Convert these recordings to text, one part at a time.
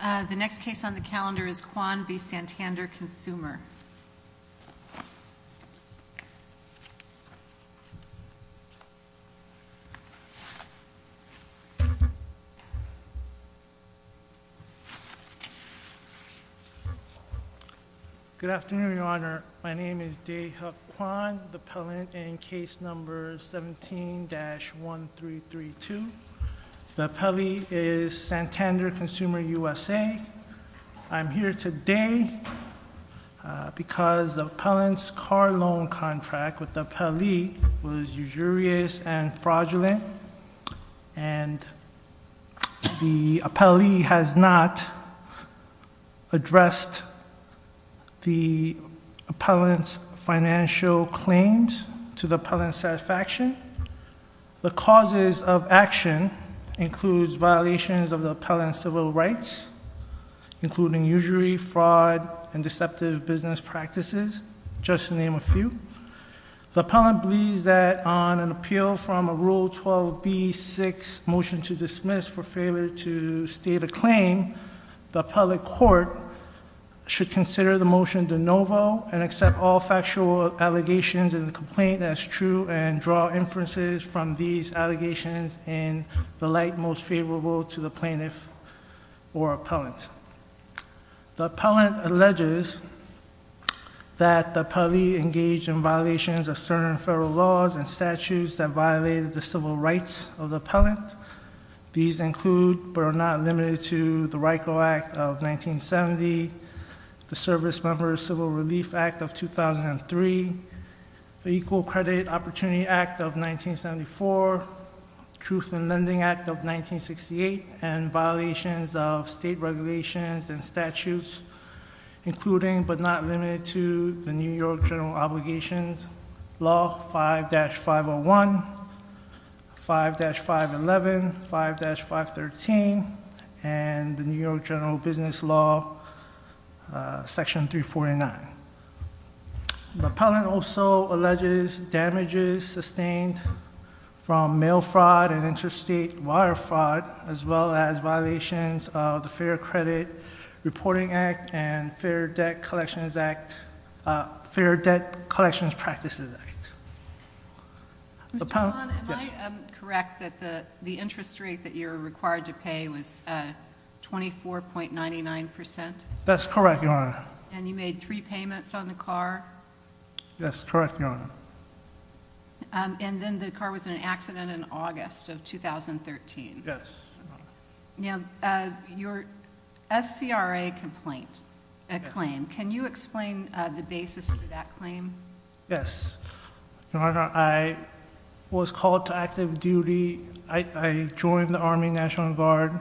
The next case on the calendar is Kwon v. Santander Consumer. Good afternoon, Your Honor. My name is Dae-Hyuk Kwon, the appellant in case number 17-1332. The appellee is Santander Consumer USA. I am here today because the appellant's car loan contract with the appellee was usurious and fraudulent, and the appellee has not addressed the appellant's financial claims to the appellant's satisfaction. The causes of action includes violations of the appellant's civil rights, including usury, fraud, and deceptive business practices, just to name a few. The appellant believes that on an appeal from a Rule 12b-6 motion to dismiss for failure to state a claim, the appellate court should consider the motion de novo and accept all factual allegations in the complaint as true and draw inferences from these allegations in the light most favorable to the plaintiff or appellant. The appellant alleges that the appellee engaged in violations of certain federal laws and statutes that violate the civil rights of the appellant. These include, but are not limited to, the RICO Act of 1970, the Servicemembers' Civil Relief Act of 2003, the Equal Credit Opportunity Act of 1974, the Truth in Lending Act of 1968, and violations of state regulations and statutes, including, but not limited to, the New York General Obligations Law 5-501, 5-511, 5-513, and the New York General Business Law Section 349. The appellant also alleges damages sustained from mail fraud and interstate wire fraud, as well as violations of the Fair Credit Reporting Act and Fair Debt Collections Act, Fair Debt Collections Practices Act. Mr. Wong, am I correct that the interest rate that you were required to pay was 24.99 percent? That's correct, Your Honor. And you made three payments on the car? That's correct, Your Honor. And then the car was in an accident in August of 2013? Yes, Your Honor. Now, your SCRA complaint, a claim, can you explain the basis of that claim? Yes, Your Honor. I was called to active duty. I joined the Army National Guard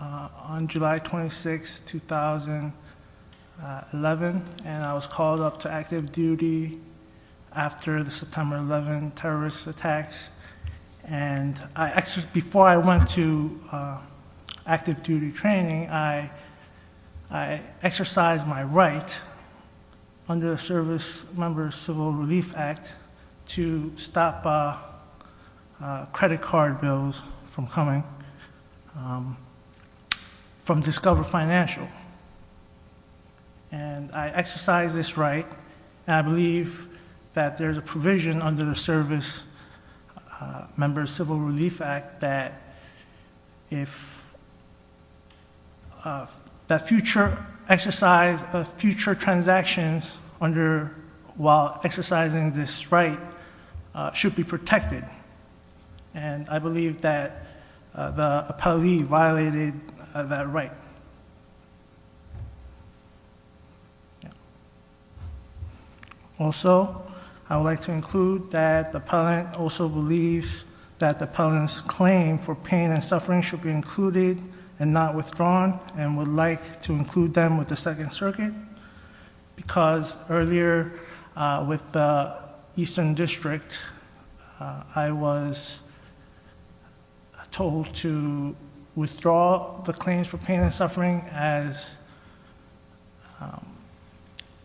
on July 26, 2011, and I was called up to active duty after the September 11 terrorist attacks. And before I went to active duty training, I exercised my right under the Service Member Civil Relief Act to stop credit card bills from coming from Discover Financial. And I exercised this right, and I believe that there's a provision under the service member Civil Relief Act that if that future exercise of future transactions under while exercising this right should be protected. And I believe that the appellee violated that right. Also, I would like to include that the appellant also believes that the appellant's claim for pain and suffering should be included and not withdrawn, and would like to include them with the Second Circuit. Because earlier with the Eastern District, I was told to withdraw the claims for pain and suffering as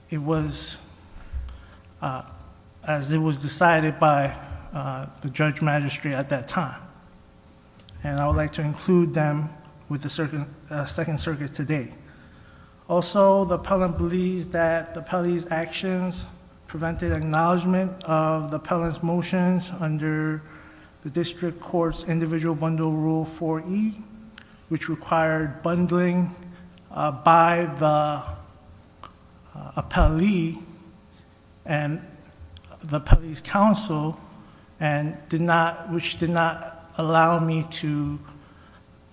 it was decided by the Judge Magistrate at that time. And I would like to include them with the Second Circuit today. Also, the appellant believes that the appellee's actions prevented acknowledgement of the appellant's motions under the District Court's Individual Bundle Rule 4E, which required bundling by the appellee and the appellee's counsel, which did not allow me to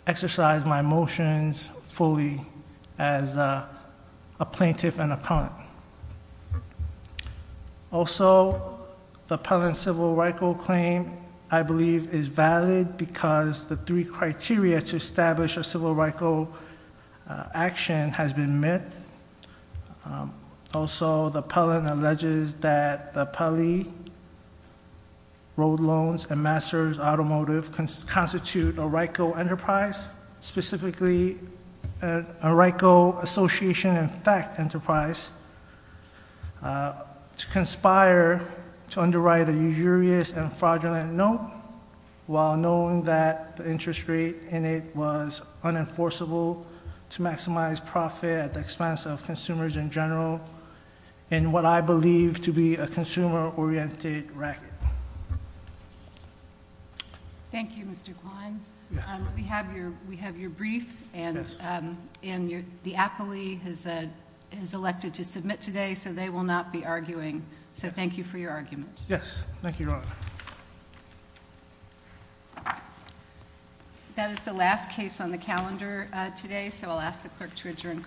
exercise my motions fully as a plaintiff and appellant. Also, the appellant's Civil RICO claim, I believe, is valid because the three criteria to establish a Civil RICO action has been met. Also, the appellant alleges that the appellee road loans and master's automotive constitute a RICO enterprise, specifically a RICO association in fact enterprise, to conspire to underwrite a usurious and fraudulent note while knowing that the interest rate in it was unenforceable to maximize profit at the expense of consumers in general in what I believe to be a consumer-oriented racket. Thank you, Mr. Quine. We have your brief, and the appellee has elected to submit today, so they will not be arguing. So thank you for your argument. Yes, thank you, Your Honor. That is the last case on the calendar today, so I'll ask the clerk to adjourn court.